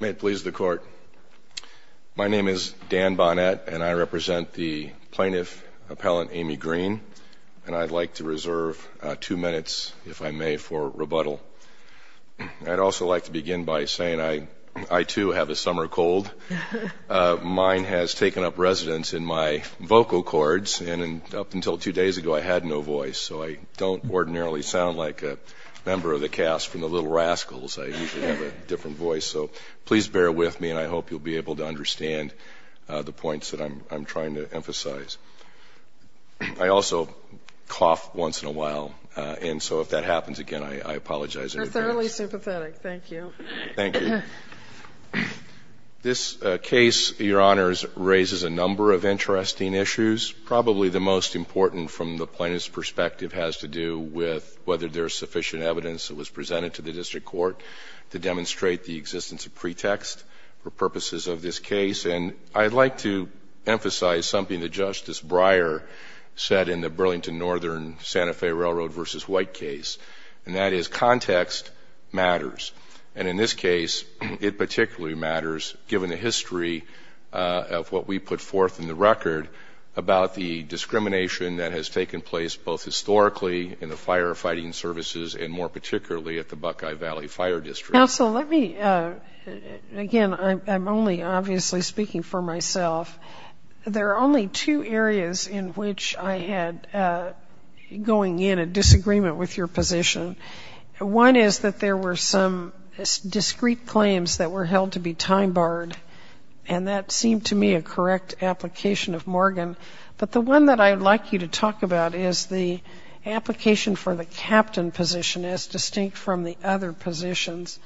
May it please the Court. My name is Dan Bonnett and I represent the Plaintiff Appellant Aimee Greene and I'd like to reserve two minutes, if I may, for rebuttal. I'd also like to begin by saying I too have a summer cold. Mine has taken up residence in my vocal cords and up until two days ago I had no voice so I don't ordinarily sound like a member of the cast from the Little Rascals. I usually have a different voice. So please bear with me and I hope you'll be able to understand the points that I'm trying to emphasize. I also cough once in a while and so if that happens again I apologize in advance. You're thoroughly sympathetic. Thank you. Thank you. This case, Your Honors, raises a number of interesting issues. Probably the most important from the plaintiff's perspective has to do with whether there's sufficient evidence that was presented to the District Court to demonstrate the existence of pretext for purposes of this case. And I'd like to emphasize something that Justice Breyer said in the Burlington Northern Santa Fe Railroad v. White case and that is context matters and in this case it particularly matters given the history of what we put forth in the record about the discrimination that has taken place both historically in the firefighting services and more particularly at the Buckeye Valley Fire District. Counsel, let me, again, I'm only obviously speaking for myself. There are only two areas in which I had going in a disagreement with your position. One is that there were some discrete claims that were held to be time-barred and that seemed to me a correct application of Morgan. But the one that I'd like you to talk about is the application for the captain position as distinct from the other positions.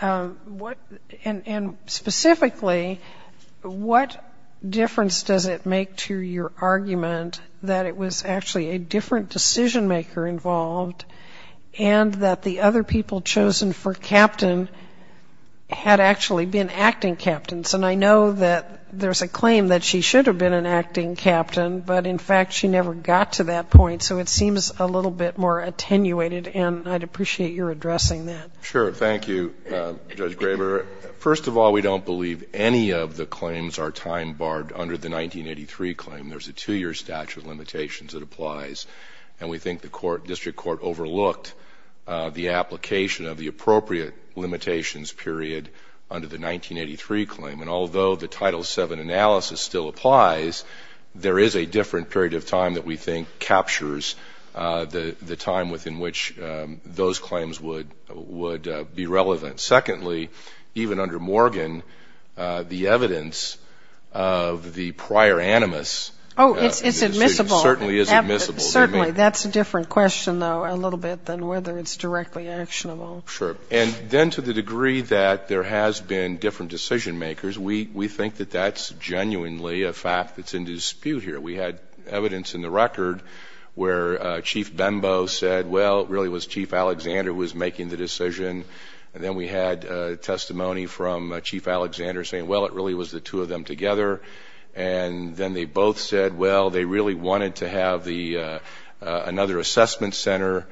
And specifically, what difference does it make to your argument that it was actually a different decision-maker involved and that the other people chosen for captain had actually been acting captains? And I know that there's a claim that she should have been an acting captain, but in fact she never got to that point. So it seems a little bit more attenuated and I'd appreciate your addressing that. Sure. Thank you, Judge Graber. First of all, we don't believe any of the claims are time-barred under the 1983 claim. There's a two-year statute of limitations that applies and we think the district court overlooked the application of the appropriate limitations period under the 1983 claim. And although the Title VII analysis still applies, there is a different period of time that we think captures the time within which those claims would be relevant. Secondly, even under Morgan, the evidence of the prior animus certainly is admissible. Oh, it's admissible. Certainly. That's a different question, though, a little bit than whether it's directly actionable. Sure. And then to the degree that there has been different decision-makers, we think that that's genuinely a fact that's in dispute here. We had evidence in the record where Chief Bembo said, well, it really was Chief Alexander who was making the decision. And then we had testimony from Chief Alexander saying, well, it really was the two of them together. And then they both said, well, they really wanted to have another assessment center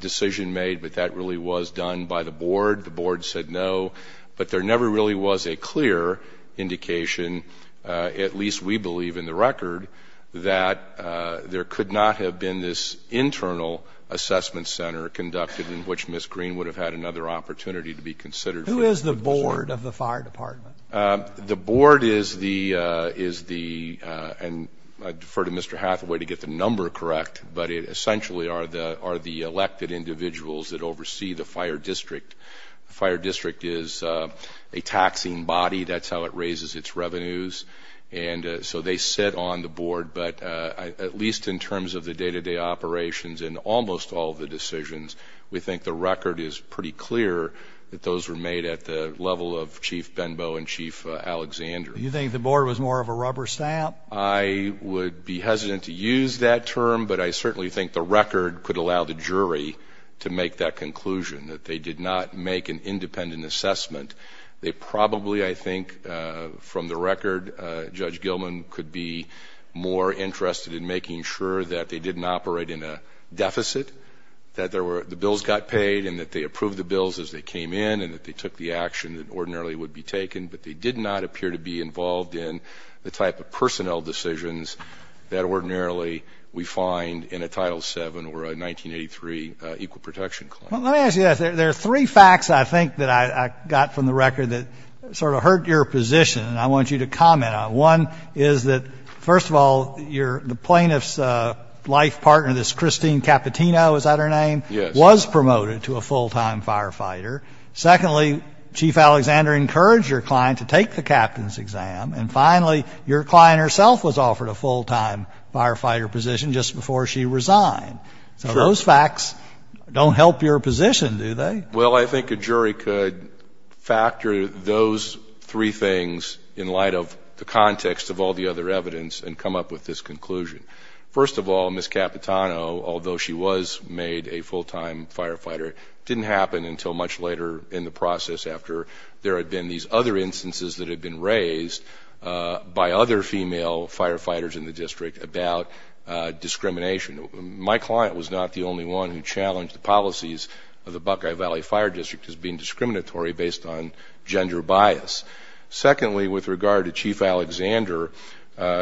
decision made, but that really was done by the board. The board said no. But there never really was a clear indication, at least we believe in the record, that there could not have been this internal assessment center conducted in which Ms. Green would have had another opportunity to be considered for the purpose of the court. Who is the board of the fire department? The board is the, and I defer to Mr. Hathaway to get the number correct, but it essentially are the elected individuals that oversee the fire district. The fire district is a taxing body. That's how it raises its revenues. And so they sit on the board. But at least in terms of the day-to-day operations and almost all the decisions, we think the board was more of a rubber stamp. I would be hesitant to use that term, but I certainly think the record could allow the jury to make that conclusion, that they did not make an independent assessment. They probably, I think, from the record, Judge Gilman could be more interested in making sure that they didn't operate in a deficit, that the bills got paid and that they approved the bills as they came in and that they took the action that ordinarily would be taken, but they did not appear to be involved in the type of personnel decisions that ordinarily we find in a Title VII or a 1983 equal protection claim. Well, let me ask you this. There are three facts, I think, that I got from the record that sort of hurt your position and I want you to comment on. One is that, first of all, the plaintiff's life partner, this Christine Capitino, is that her name? Yes. Was promoted to a full-time firefighter. Secondly, Chief Alexander encouraged your client to take the captain's exam. And finally, your client herself was offered a full-time firefighter position just before she resigned. Sure. So those facts don't help your position, do they? Well, I think a jury could factor those three things in light of the context of all the other evidence and come up with this conclusion. First of all, Ms. Capitino, although she was made a full-time firefighter, it didn't happen until much later in the process after there had been these other instances that had been raised by other female firefighters in the district about discrimination. My client was not the only one who challenged the policies of the Buckeye Valley Fire District as being discriminatory based on gender bias. Secondly, with regard to Chief Alexander,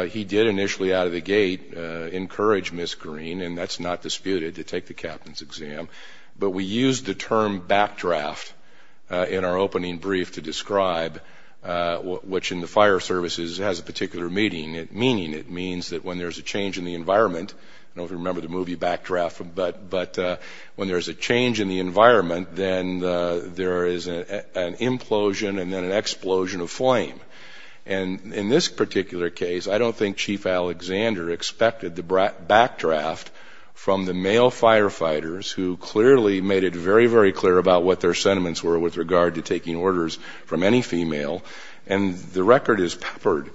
he did initially out of the gate encourage Ms. Corrine, and that's not disputed, to take the captain's exam. But we used the term backdraft in our opening brief to describe what, which in the fire services has a particular meaning. It means that when there's a change in the environment, I don't know if you remember the movie Backdraft, but when there's a change in the environment, then there is an implosion and then an explosion of flame. And in this particular case, I don't think Chief Alexander expected the backdraft from the male firefighters who clearly made it very, very clear about what their sentiments were with regard to taking orders from any female. And the record is peppered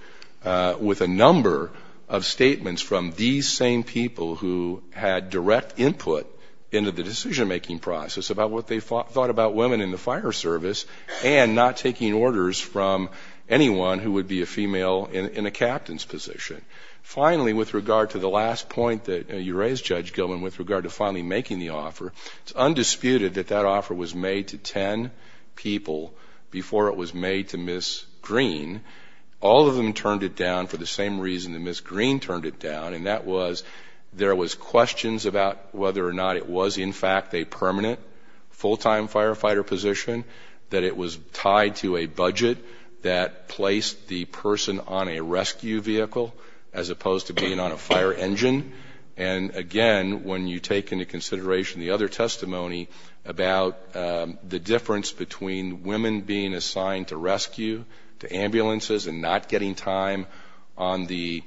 with a number of statements from these same people who had direct input into the decision-making process about what they thought about women in the fire service and not taking orders from anyone who would be a female in a captain's position. Finally, with regard to the last point that you raised, Judge Gilman, with regard to finally making the offer, it's undisputed that that offer was made to ten people before it was made to Ms. Green. All of them turned it down for the same reason that Ms. Green turned it down, and that was there was questions about whether or not it was in fact a permanent full-time firefighter position, that it was tied to a budget that placed the person on a rescue vehicle as opposed to being on a fire engine. And again, when you take into consideration the other testimony about the difference between women being assigned to rescue to ambulances and not getting time on the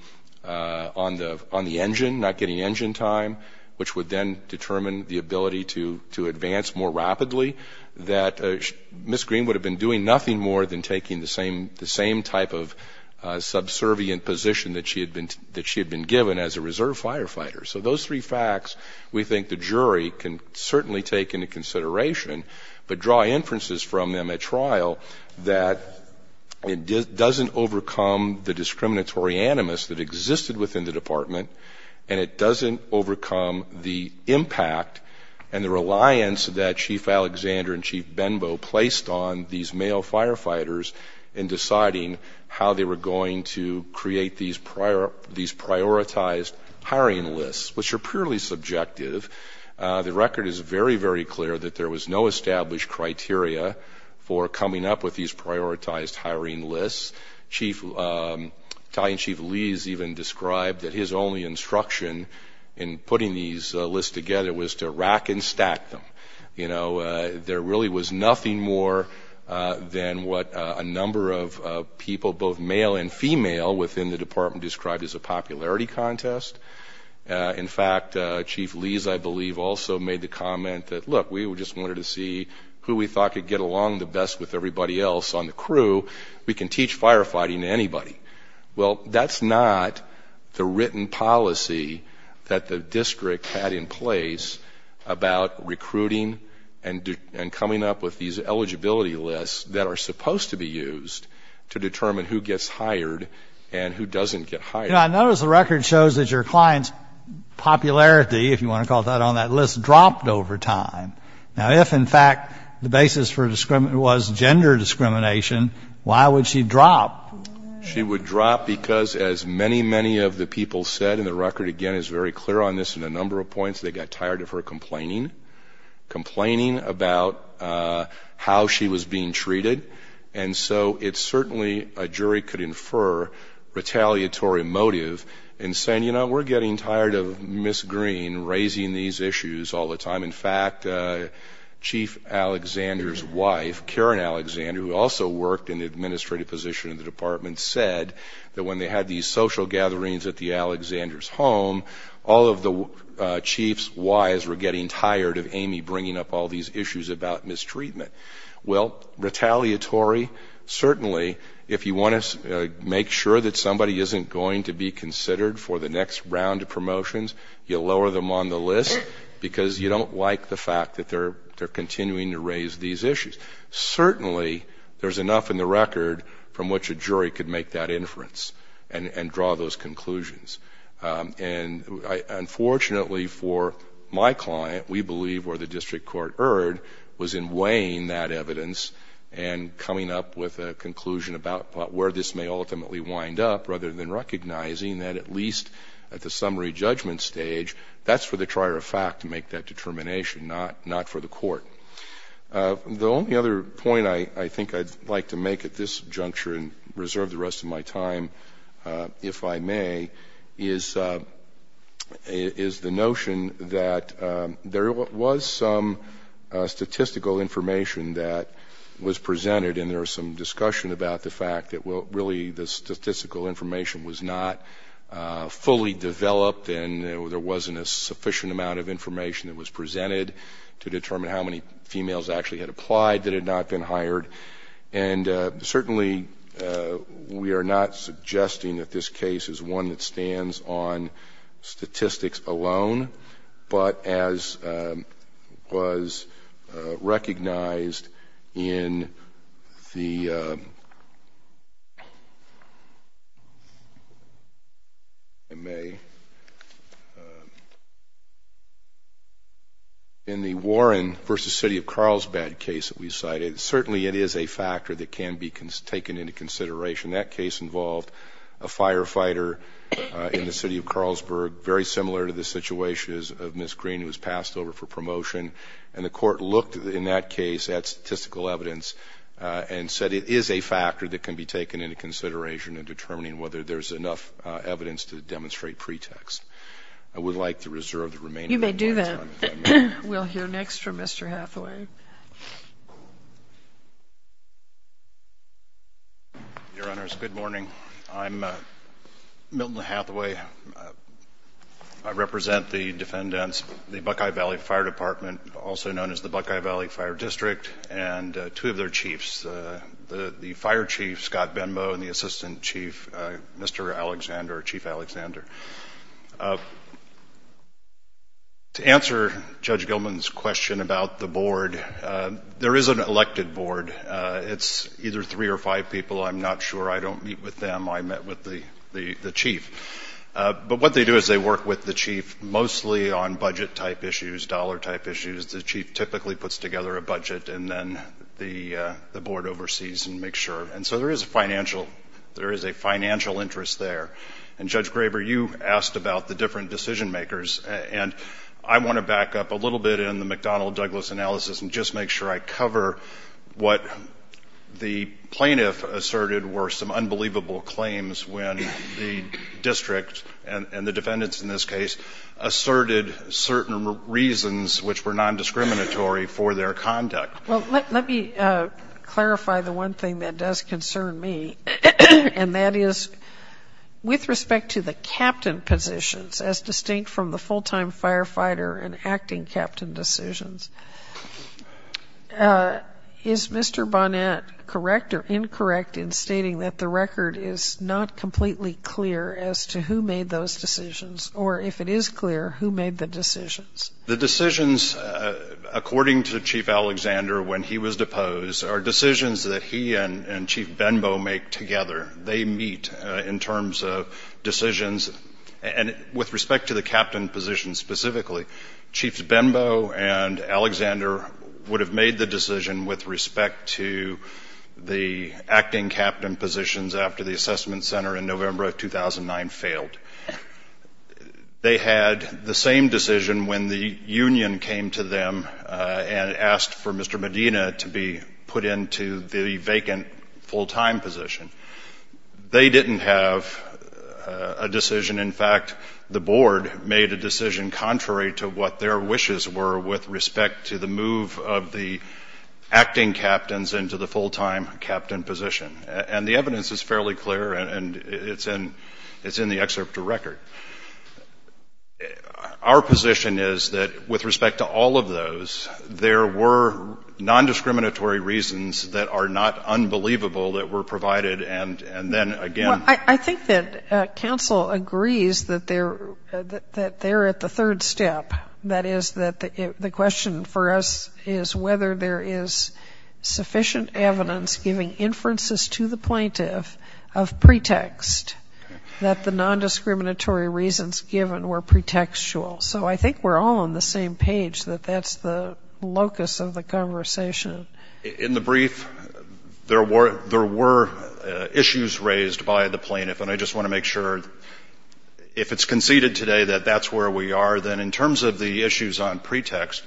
engine, not getting engine time, which would then determine the ability to advance more rapidly, that Ms. Green would have been doing nothing more than taking the same type of subservient position that she had been given as a reserve firefighter. So those three facts we think the jury can certainly take into consideration, but draw inferences from them at trial that it doesn't overcome the discriminatory animus that existed within the department, and it doesn't overcome the male firefighters in deciding how they were going to create these prioritized hiring lists, which are purely subjective. The record is very, very clear that there was no established criteria for coming up with these prioritized hiring lists. Chief, Italian Chief Lee has even described that his only instruction in putting these lists together was to rack and up than what a number of people, both male and female, within the department described as a popularity contest. In fact, Chief Lee's, I believe, also made the comment that, look, we just wanted to see who we thought could get along the best with everybody else on the crew. We can teach firefighting to anybody. Well, that's not the written policy that the jury is supposed to be using to determine who gets hired and who doesn't get hired. You know, I notice the record shows that your client's popularity, if you want to call it that, on that list dropped over time. Now, if, in fact, the basis for discrimination was gender discrimination, why would she drop? She would drop because, as many, many of the people said, and the record, again, is very clear on this in a number of points, they got tired of her complaining, complaining about how she was being treated. And so it's certainly, a jury could infer, retaliatory motive in saying, you know, we're getting tired of Ms. Green raising these issues all the time. In fact, Chief Alexander's wife, Karen Alexander, who also worked in the administrative position in the department, said that when they had these social gatherings at the Alexander's home, all of the chief's wives were getting tired of Amy bringing up all these issues about mistreatment. Well, retaliatory, certainly, if you want to make sure that somebody isn't going to be considered for the next round of promotions, you lower them on the list because you don't like the fact that they're continuing to raise these issues. Certainly, there's enough in the record from which a jury could make that inference and draw those conclusions. And unfortunately for my client, we believe where the district court erred was in weighing that evidence and coming up with a conclusion about where this may ultimately wind up rather than recognizing that at least at the summary judgment stage, that's for the trier of fact to make that determination, not for the court. The only other point I think I'd like to make at this juncture and reserve the rest of my time, if I may, is the notion that there was some statistical information that was presented and there was some discussion about the fact that really the statistical information was not fully developed and there wasn't a sufficient amount of information that was presented to determine how many females actually had applied that had not been hired. And certainly, we are not suggesting that this case is one that stands on statistics alone, but as was recognized in the Warren v. City of Carlsbad case that we cited, certainly it is a factor that can be taken into consideration. That case involved a firefighter in the city of Carlsbad, very similar to the situation of Ms. Green, who was passed over for promotion. And the court looked in that case at statistical evidence and said it is a factor that can be taken into consideration in determining whether there's enough evidence to demonstrate pretext. I would like to reserve the remainder of my time. You may do that. We'll hear next from Mr. Hathaway. Your Honors, good morning. I'm Milton Hathaway. I represent the defendants, the Buckeye Valley Fire Department, also known as the Buckeye Valley Fire District, and two of their chiefs, the fire chief, Scott Benbow, and the assistant chief, Mr. Alexander, Chief Alexander. To answer Judge Gilman's question about the board, there is an elected board. It's either three or five people. I'm not sure. I don't meet with them. I met with the chief. But what they do is they work with the chief mostly on budget-type issues, dollar-type issues. The chief typically puts together a budget, and then the board oversees and makes sure. And so there is a financial interest there. And, Judge Graber, you asked about the different decision-makers. And I want to back up a little bit in the McDonnell-Douglas analysis and just make sure I cover what the plaintiff asserted were some unbelievable claims when the district, and the defendants in this case, asserted certain reasons which were nondiscriminatory for their conduct. Well, let me clarify the one thing that does concern me, and that is, with respect to the captain positions, as distinct from the full-time firefighter and acting captain decisions, is Mr. Bonnet correct or incorrect in stating that the record is not completely clear as to who made those decisions, or if it is clear, who made the decisions? The decisions, according to Chief Alexander, when he was deposed, are decisions that he and Chief Benbow make together. They meet in terms of decisions. And with respect to the captain positions specifically, Chiefs Benbow and Alexander would have made the decision with respect to the acting captain positions after the assessment center in November of the union came to them and asked for Mr. Medina to be put into the vacant full-time position. They didn't have a decision. In fact, the board made a decision contrary to what their wishes were with respect to the move of the acting captains into the full-time captain position. And the evidence is fairly clear, and it's in the excerpt to record. And our position is that with respect to all of those, there were nondiscriminatory reasons that are not unbelievable that were provided, and then again ‑‑ I think that counsel agrees that they're at the third step. That is, that the question for us is whether there is sufficient evidence giving inferences to the plaintiff of pretext that the nondiscriminatory reasons given were pretextual. So I think we're all on the same page that that's the locus of the conversation. In the brief, there were issues raised by the plaintiff. And I just want to make sure, if it's conceded today that that's where we are, then in terms of the issues on pretext,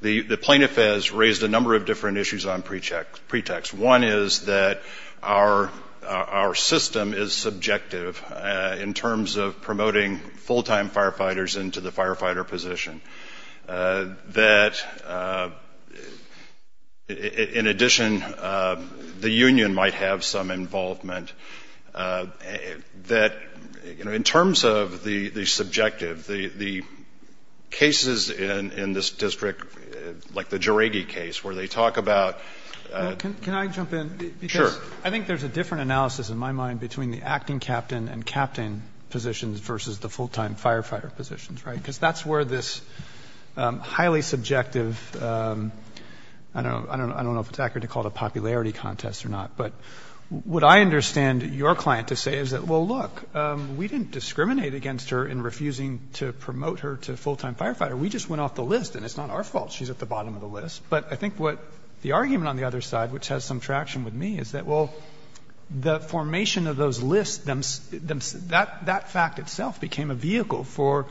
the plaintiff has raised a number of different issues on pretext. One is that our system is subjective in terms of promoting full-time firefighters into the firefighter position. That, in addition, the union might have some involvement. That, you know, in terms of the subjective, the cases in this district, like the Jeregi case, where they talk about ‑‑ Can I jump in? Sure. I think there's a different analysis in my mind between the acting captain and captain positions versus the full-time firefighter positions, right? Because that's where this highly subjective ‑‑ I don't know if it's accurate to call it a popularity contest or not, but what I understand your client to say is that, well, look, we didn't discriminate against her in refusing to promote her to full-time firefighter. We just went off the list. But I think what the argument on the other side, which has some traction with me, is that, well, the formation of those lists, that fact itself became a vehicle for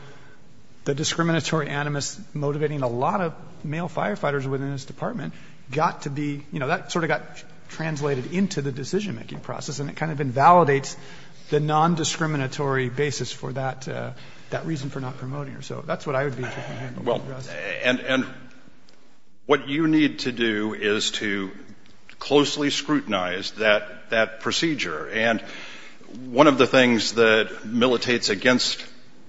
the discriminatory animus motivating a lot of male firefighters within this department got to be, you know, that sort of got translated into the decision‑making process, and it kind of invalidates the nondiscriminatory basis for that reason for not promoting her. So that's what I would be interested in hearing from you, Justice. And what you need to do is to closely scrutinize that procedure. And one of the things that militates against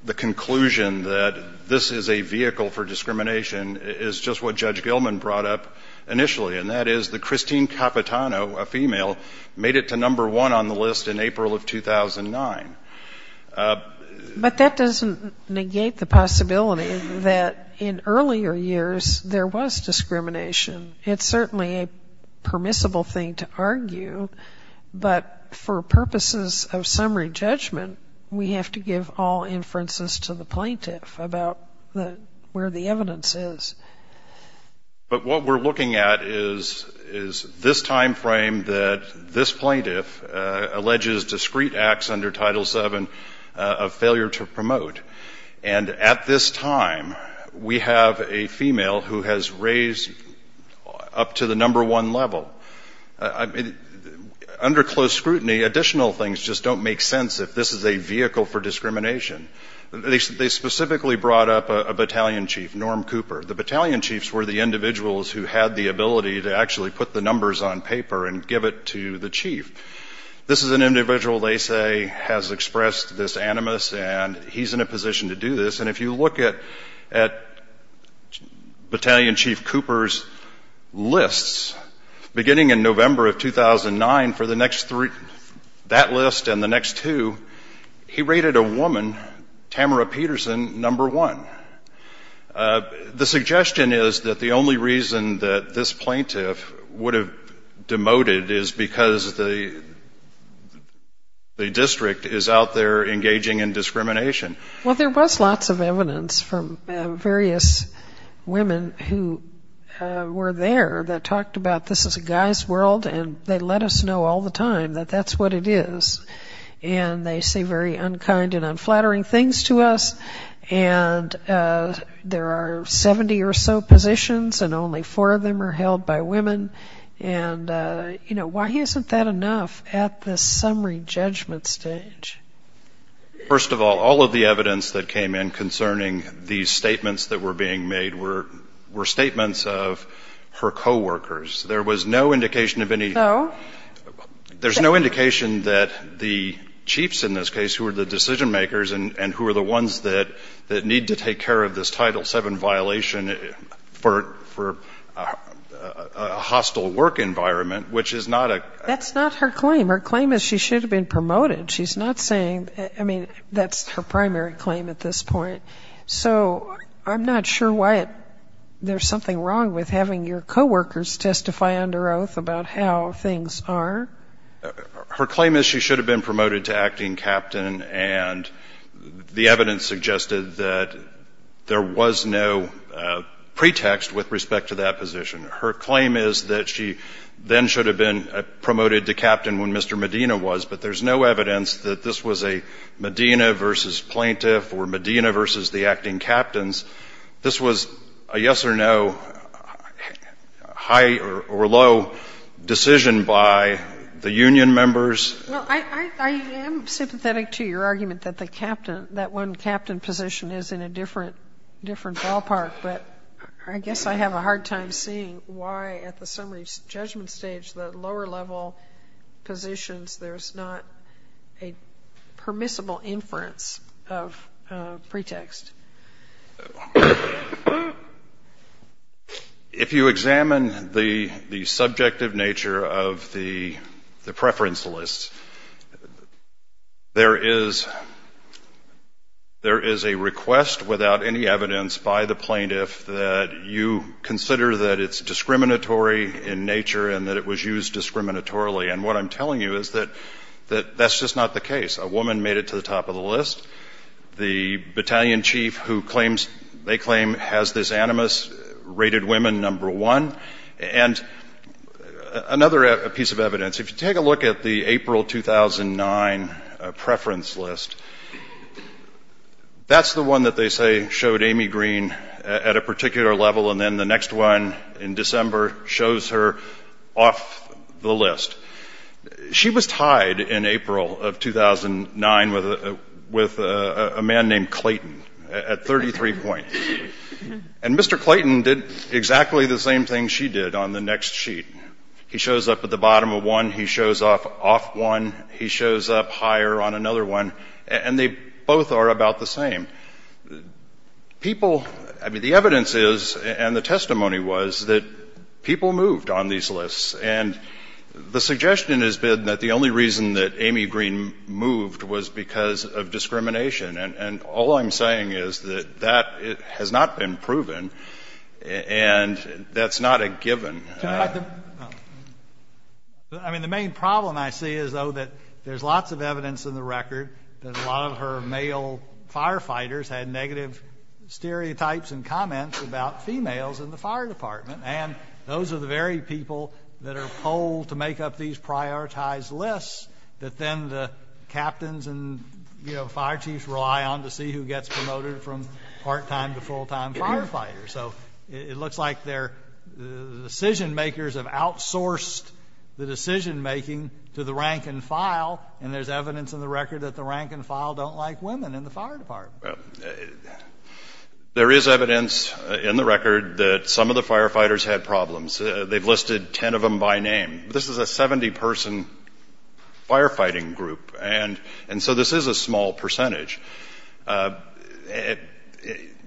the conclusion that this is a vehicle for discrimination is just what Judge Gilman brought up initially, and that is that Christine Capitano, a female, made it to number one on the list in April of 2009. But that doesn't negate the possibility that in earlier years there was discrimination. It's certainly a permissible thing to argue, but for purposes of summary judgment, we have to give all inferences to the plaintiff about where the evidence is. But what we're looking at is this timeframe that this plaintiff alleges discrete acts under Title VII of failure to promote. And at this time, we have a female who has raised up to the number one level. Under close scrutiny, additional things just don't make sense if this is a vehicle for discrimination. They specifically brought up a battalion chief, Norm Cooper. The battalion chiefs were the individuals who had the ability to actually put the numbers on paper and give it to the chief. This is an individual, they say, has expressed this animus, and he's in a position to do this. And if you look at Battalion Chief Cooper's lists, beginning in November of 2009, for that list and the next two, he rated a woman, Tamara Peterson, number one. The suggestion is that the only reason that this plaintiff would have demoted is because the district is out there engaging in discrimination. Well, there was lots of evidence from various women who were there that talked about this is a guy's world, and they let us know all the time that that's what it is. And they say very unkind and unflattering things to us. And there are 70 or so positions, and only four of them are held by women. And, you know, why isn't that enough at the summary judgment stage? First of all, all of the evidence that came in concerning these statements that were being made were statements of her co-workers. There was no indication of any No. There's no indication that the chiefs in this case who are the decision makers and who are the ones that need to take care of this Title VII violation for a hostile work environment, which is not a That's not her claim. Her claim is she should have been promoted. She's not saying, I mean, that's her primary claim at this point. So I'm not sure why there's something wrong with having your co-workers testify under oath about how things are. Her claim is she should have been promoted to acting captain, and the evidence suggested that there was no pretext with respect to that position. Her claim is that she then should have been promoted to captain when Mr. Medina was, but there's no evidence that this was a Medina versus plaintiff or Medina versus the acting captains. This was a yes or no, high or low decision by the union members. Well, I am sympathetic to your argument that the captain, that one captain position is in a different ballpark, but I guess I have a hard time seeing why at the summary judgment stage, the lower level positions, there's not a permissible inference of pretext. If you examine the subjective nature of the preference list, there is a request without any evidence by the plaintiff that you consider that it's discriminatory in nature and that it was used discriminatorily. And what I'm telling you is that that's just not the case. A woman made it to the top of the list. The battalion chief who claims, they claim has this animus, rated women number one. And another piece of evidence, if you take a look at the April 2009 preference list, that's the one that they say showed Amy Green at a particular level and then the next one in December shows her off the list. She was tied in April of 2009 with a man named Clayton at 33 points. And Mr. Clayton did exactly the same thing she did on the next sheet. He shows up at the bottom of one. He shows up off one. He shows up higher on another one. And they both are about the same. People, I mean, the evidence is and the testimony was that people moved on these lists. And the suggestion has been that the only reason that Amy Green moved was because of discrimination. And all I'm saying is that that has not been proven. And that's not a given. I mean, the main problem I see is, though, that there's lots of evidence in the record that a lot of her male firefighters had negative stereotypes and comments about females in the fire department. And there's evidence in the record that the rank and file don't like women in the fire department. There is evidence in the record that some of the firefighters had problems. They've been, this is a 70-person firefighting group. And so this is a small percentage.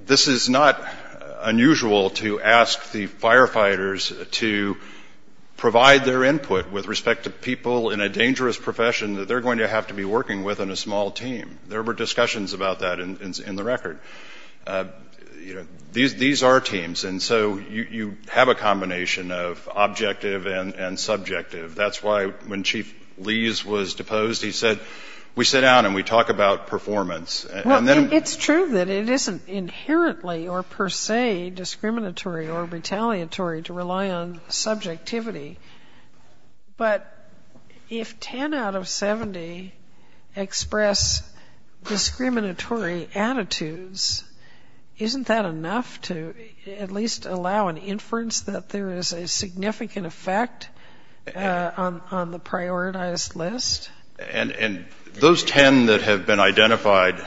This is not unusual to ask the firefighters to provide their input with respect to people in a dangerous profession that they're going to have to be working with in a small team. There were discussions about that in the record. You know, these are teams. And so you have a combination of objective and subjective. That's why when Chief Lee's was deposed, he said, we sit down and we talk about performance. And then we Well, it's true that it isn't inherently or per se discriminatory or retaliatory to rely on subjectivity. But if 10 out of 70 express discriminatory attitudes, that's not a good reference. Isn't that enough to at least allow an inference that there is a significant effect on the prioritized list? And those 10 that have been identified,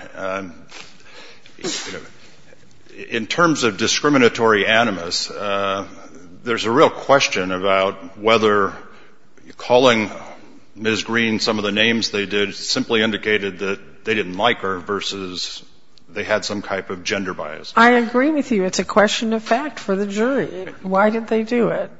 in terms of discriminatory animus, there's a real question about whether calling Ms. Green some of the names they did simply indicated that they didn't like her versus they had some type of gender bias. I agree with you. It's a question of fact for the jury. Why did they do it?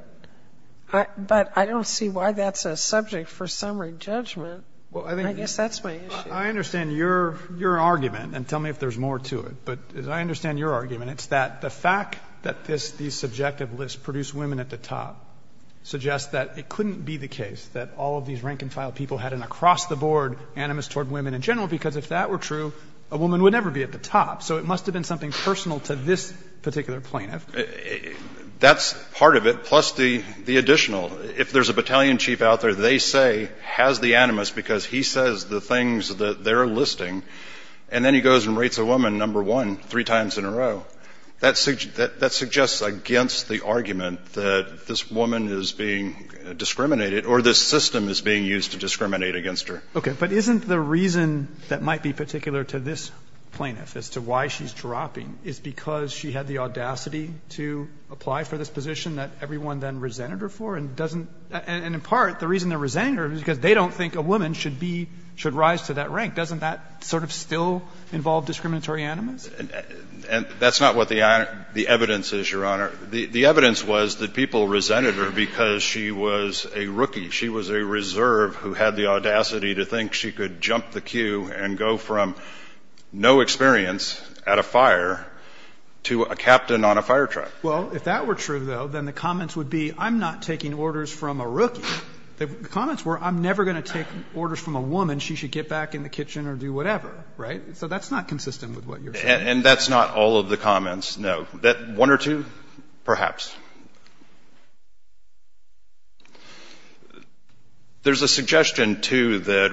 But I don't see why that's a subject for summary judgment. I guess that's my issue. I understand your argument, and tell me if there's more to it. But as I understand your argument, it's that the fact that these subjective lists produce women at the top suggests that it couldn't be the case that all of these rank-and-file people had an across-the-board animus toward women in general, because if that were true, a woman would never be at the top. So it must have been something personal to this particular plaintiff. That's part of it, plus the additional. If there's a battalion chief out there, they say has the animus because he says the things that they're listing, and then he goes and rates a woman number one three times in a row, that suggests against the argument that this woman is being discriminated or this system is being used to discriminate against her. Okay. But isn't the reason that might be particular to this plaintiff as to why she's dropping is because she had the audacity to apply for this position that everyone then resented her for and doesn't – and in part, the reason they're resenting her is because they don't think a woman should be – should rise to that rank. Doesn't that sort of still involve discriminatory animus? That's not what the evidence is, Your Honor. The evidence was that people resented her because she was a rookie. She was a reserve who had the audacity to think she could jump the queue and go from no experience at a fire to a captain on a fire truck. Well, if that were true, though, then the comments would be I'm not taking orders from a rookie. The comments were I'm never going to take orders from a woman. She should get back in the kitchen or do whatever, right? So that's not consistent with what you're saying. And that's not all of the comments, no. One or two, perhaps. There's a suggestion, too, that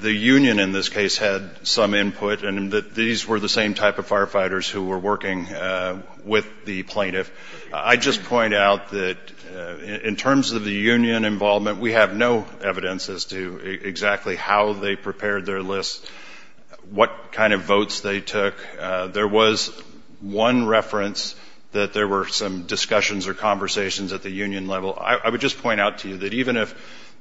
the union in this case had some input and that these were the same type of firefighters who were working with the plaintiff. I just point out that in terms of the union involvement, we have no evidence as to exactly how they prepared their lists, what kind of votes they took. There was one reference that there were some discussions or conversations at the union level. I would just point out to you that even if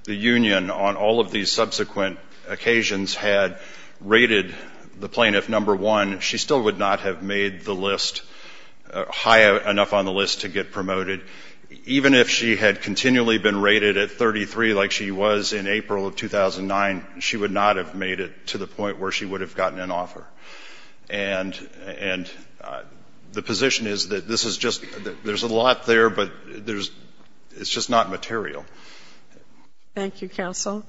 the union on all of these subsequent occasions had rated the plaintiff number one, she still would not have made the list high enough on the list to get promoted. Even if she had continually been she would not have made it to the point where she would have gotten an offer. And the position is that this is just there's a lot there, but it's just not material. Thank you, counsel.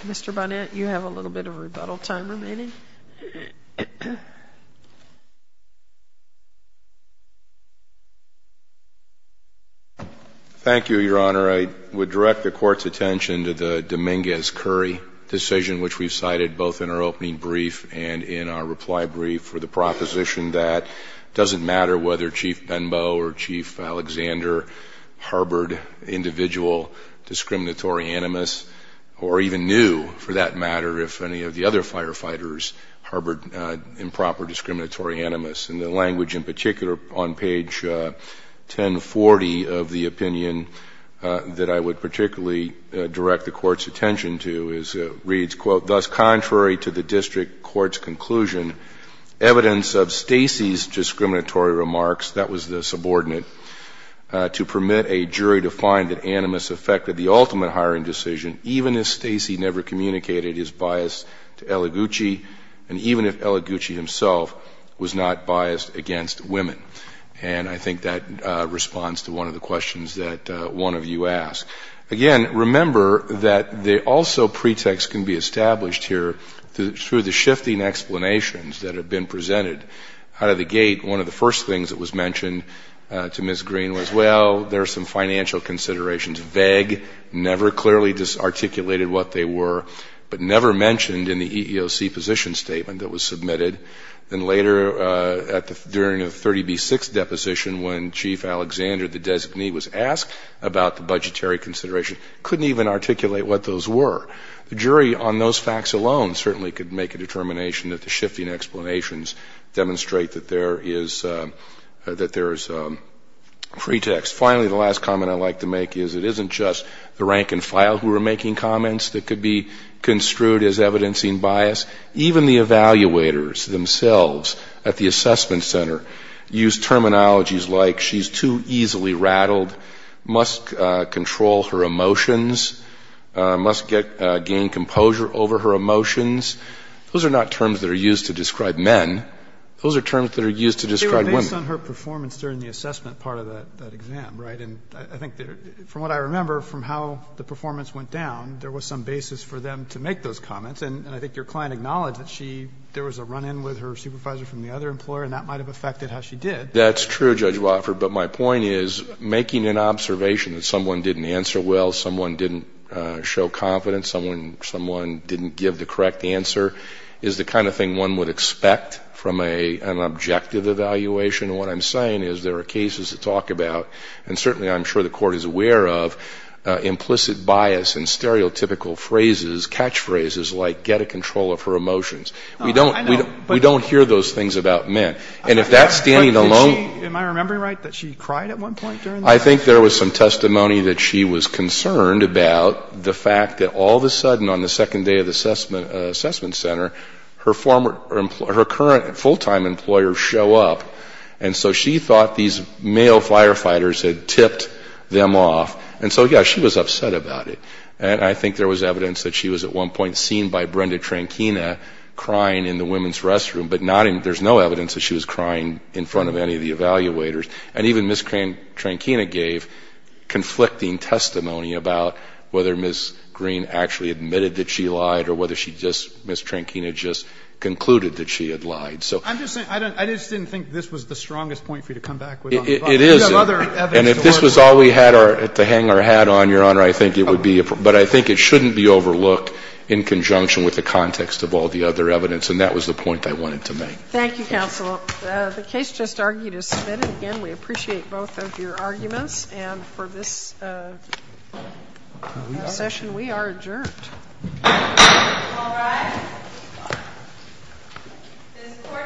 Mr. Bonet, you have a little bit of rebuttal time remaining. Thank you, Your Honor. I would direct the court's attention to the Dominguez Curry decision, which we've cited both in our opening brief and in our reply brief for the proposition that it doesn't matter whether Chief Benbow or Chief Alexander harbored individual discriminatory animus or even knew, for that matter, if any of the other firefighters harbored improper discriminatory animus. And the language in particular on page 1040 of the opinion that I would particularly direct the court's attention to is it reads, Quote, Thus contrary to the district court's conclusion, evidence of Stacey's discriminatory remarks, that was the subordinate, to permit a jury to find that animus affected the ultimate hiring decision, even if Stacey never communicated his bias to Eliguchi, and even if Eliguchi himself was not biased against women. And I think that responds to one of the questions that one of you asked. Again, remember that the also pretext can be established here through the shifting explanations that have been presented. Out of the gate, one of the first things that was mentioned to Ms. Green was, well, there are some financial considerations vague, never clearly articulated what they were, but never mentioned in the EEOC position statement that was submitted. And later, during the 30B6 deposition, when Chief Alexander, the designee, was asked about the budgetary consideration, couldn't even articulate what those were. The jury on those facts alone certainly could make a determination that the shifting explanations demonstrate that there is a pretext. Finally, the last comment I'd like to make is it isn't just the rank and file who could be construed as evidencing bias. Even the evaluators themselves at the assessment center use terminologies like she's too easily rattled, must control her emotions, must gain composure over her emotions. Those are not terms that are used to describe men. Those are terms that are used to describe women. They were based on her performance during the assessment part of that exam, right? And I think from what I remember from how the performance went down, there was some basis for them to make those comments. And I think your client acknowledged that she, there was a run-in with her supervisor from the other employer, and that might have affected how she did. That's true, Judge Wofford. But my point is making an observation that someone didn't answer well, someone didn't show confidence, someone didn't give the correct answer is the kind of thing one would expect from an objective evaluation. And what I'm saying is there are cases to talk about, and certainly I'm sure the catchphrases like get a control of her emotions. We don't hear those things about men. And if that's standing alone... Am I remembering right that she cried at one point during that? I think there was some testimony that she was concerned about the fact that all of a sudden on the second day of the assessment center, her current full-time employer show up, and so she thought these male firefighters had tipped them off. And so, yeah, she was upset about it. And I think there was evidence that she was at one point seen by Brenda Trankina crying in the women's restroom, but not in, there's no evidence that she was crying in front of any of the evaluators. And even Ms. Trankina gave conflicting testimony about whether Ms. Green actually admitted that she lied or whether she just, Ms. Trankina just concluded that she had lied. So... I'm just saying, I just didn't think this was the strongest point for you to come back with on the problem. It isn't. We have other evidence to work with. And if this was all we had to hang our hat on, Your Honor, I think it would be, but I think it shouldn't be overlooked in conjunction with the context of all the other evidence. And that was the point I wanted to make. Thank you, counsel. The case just argued is submitted. Again, we appreciate both of your arguments. And for this session, we are adjourned. All rise. This court for this session stands adjourned.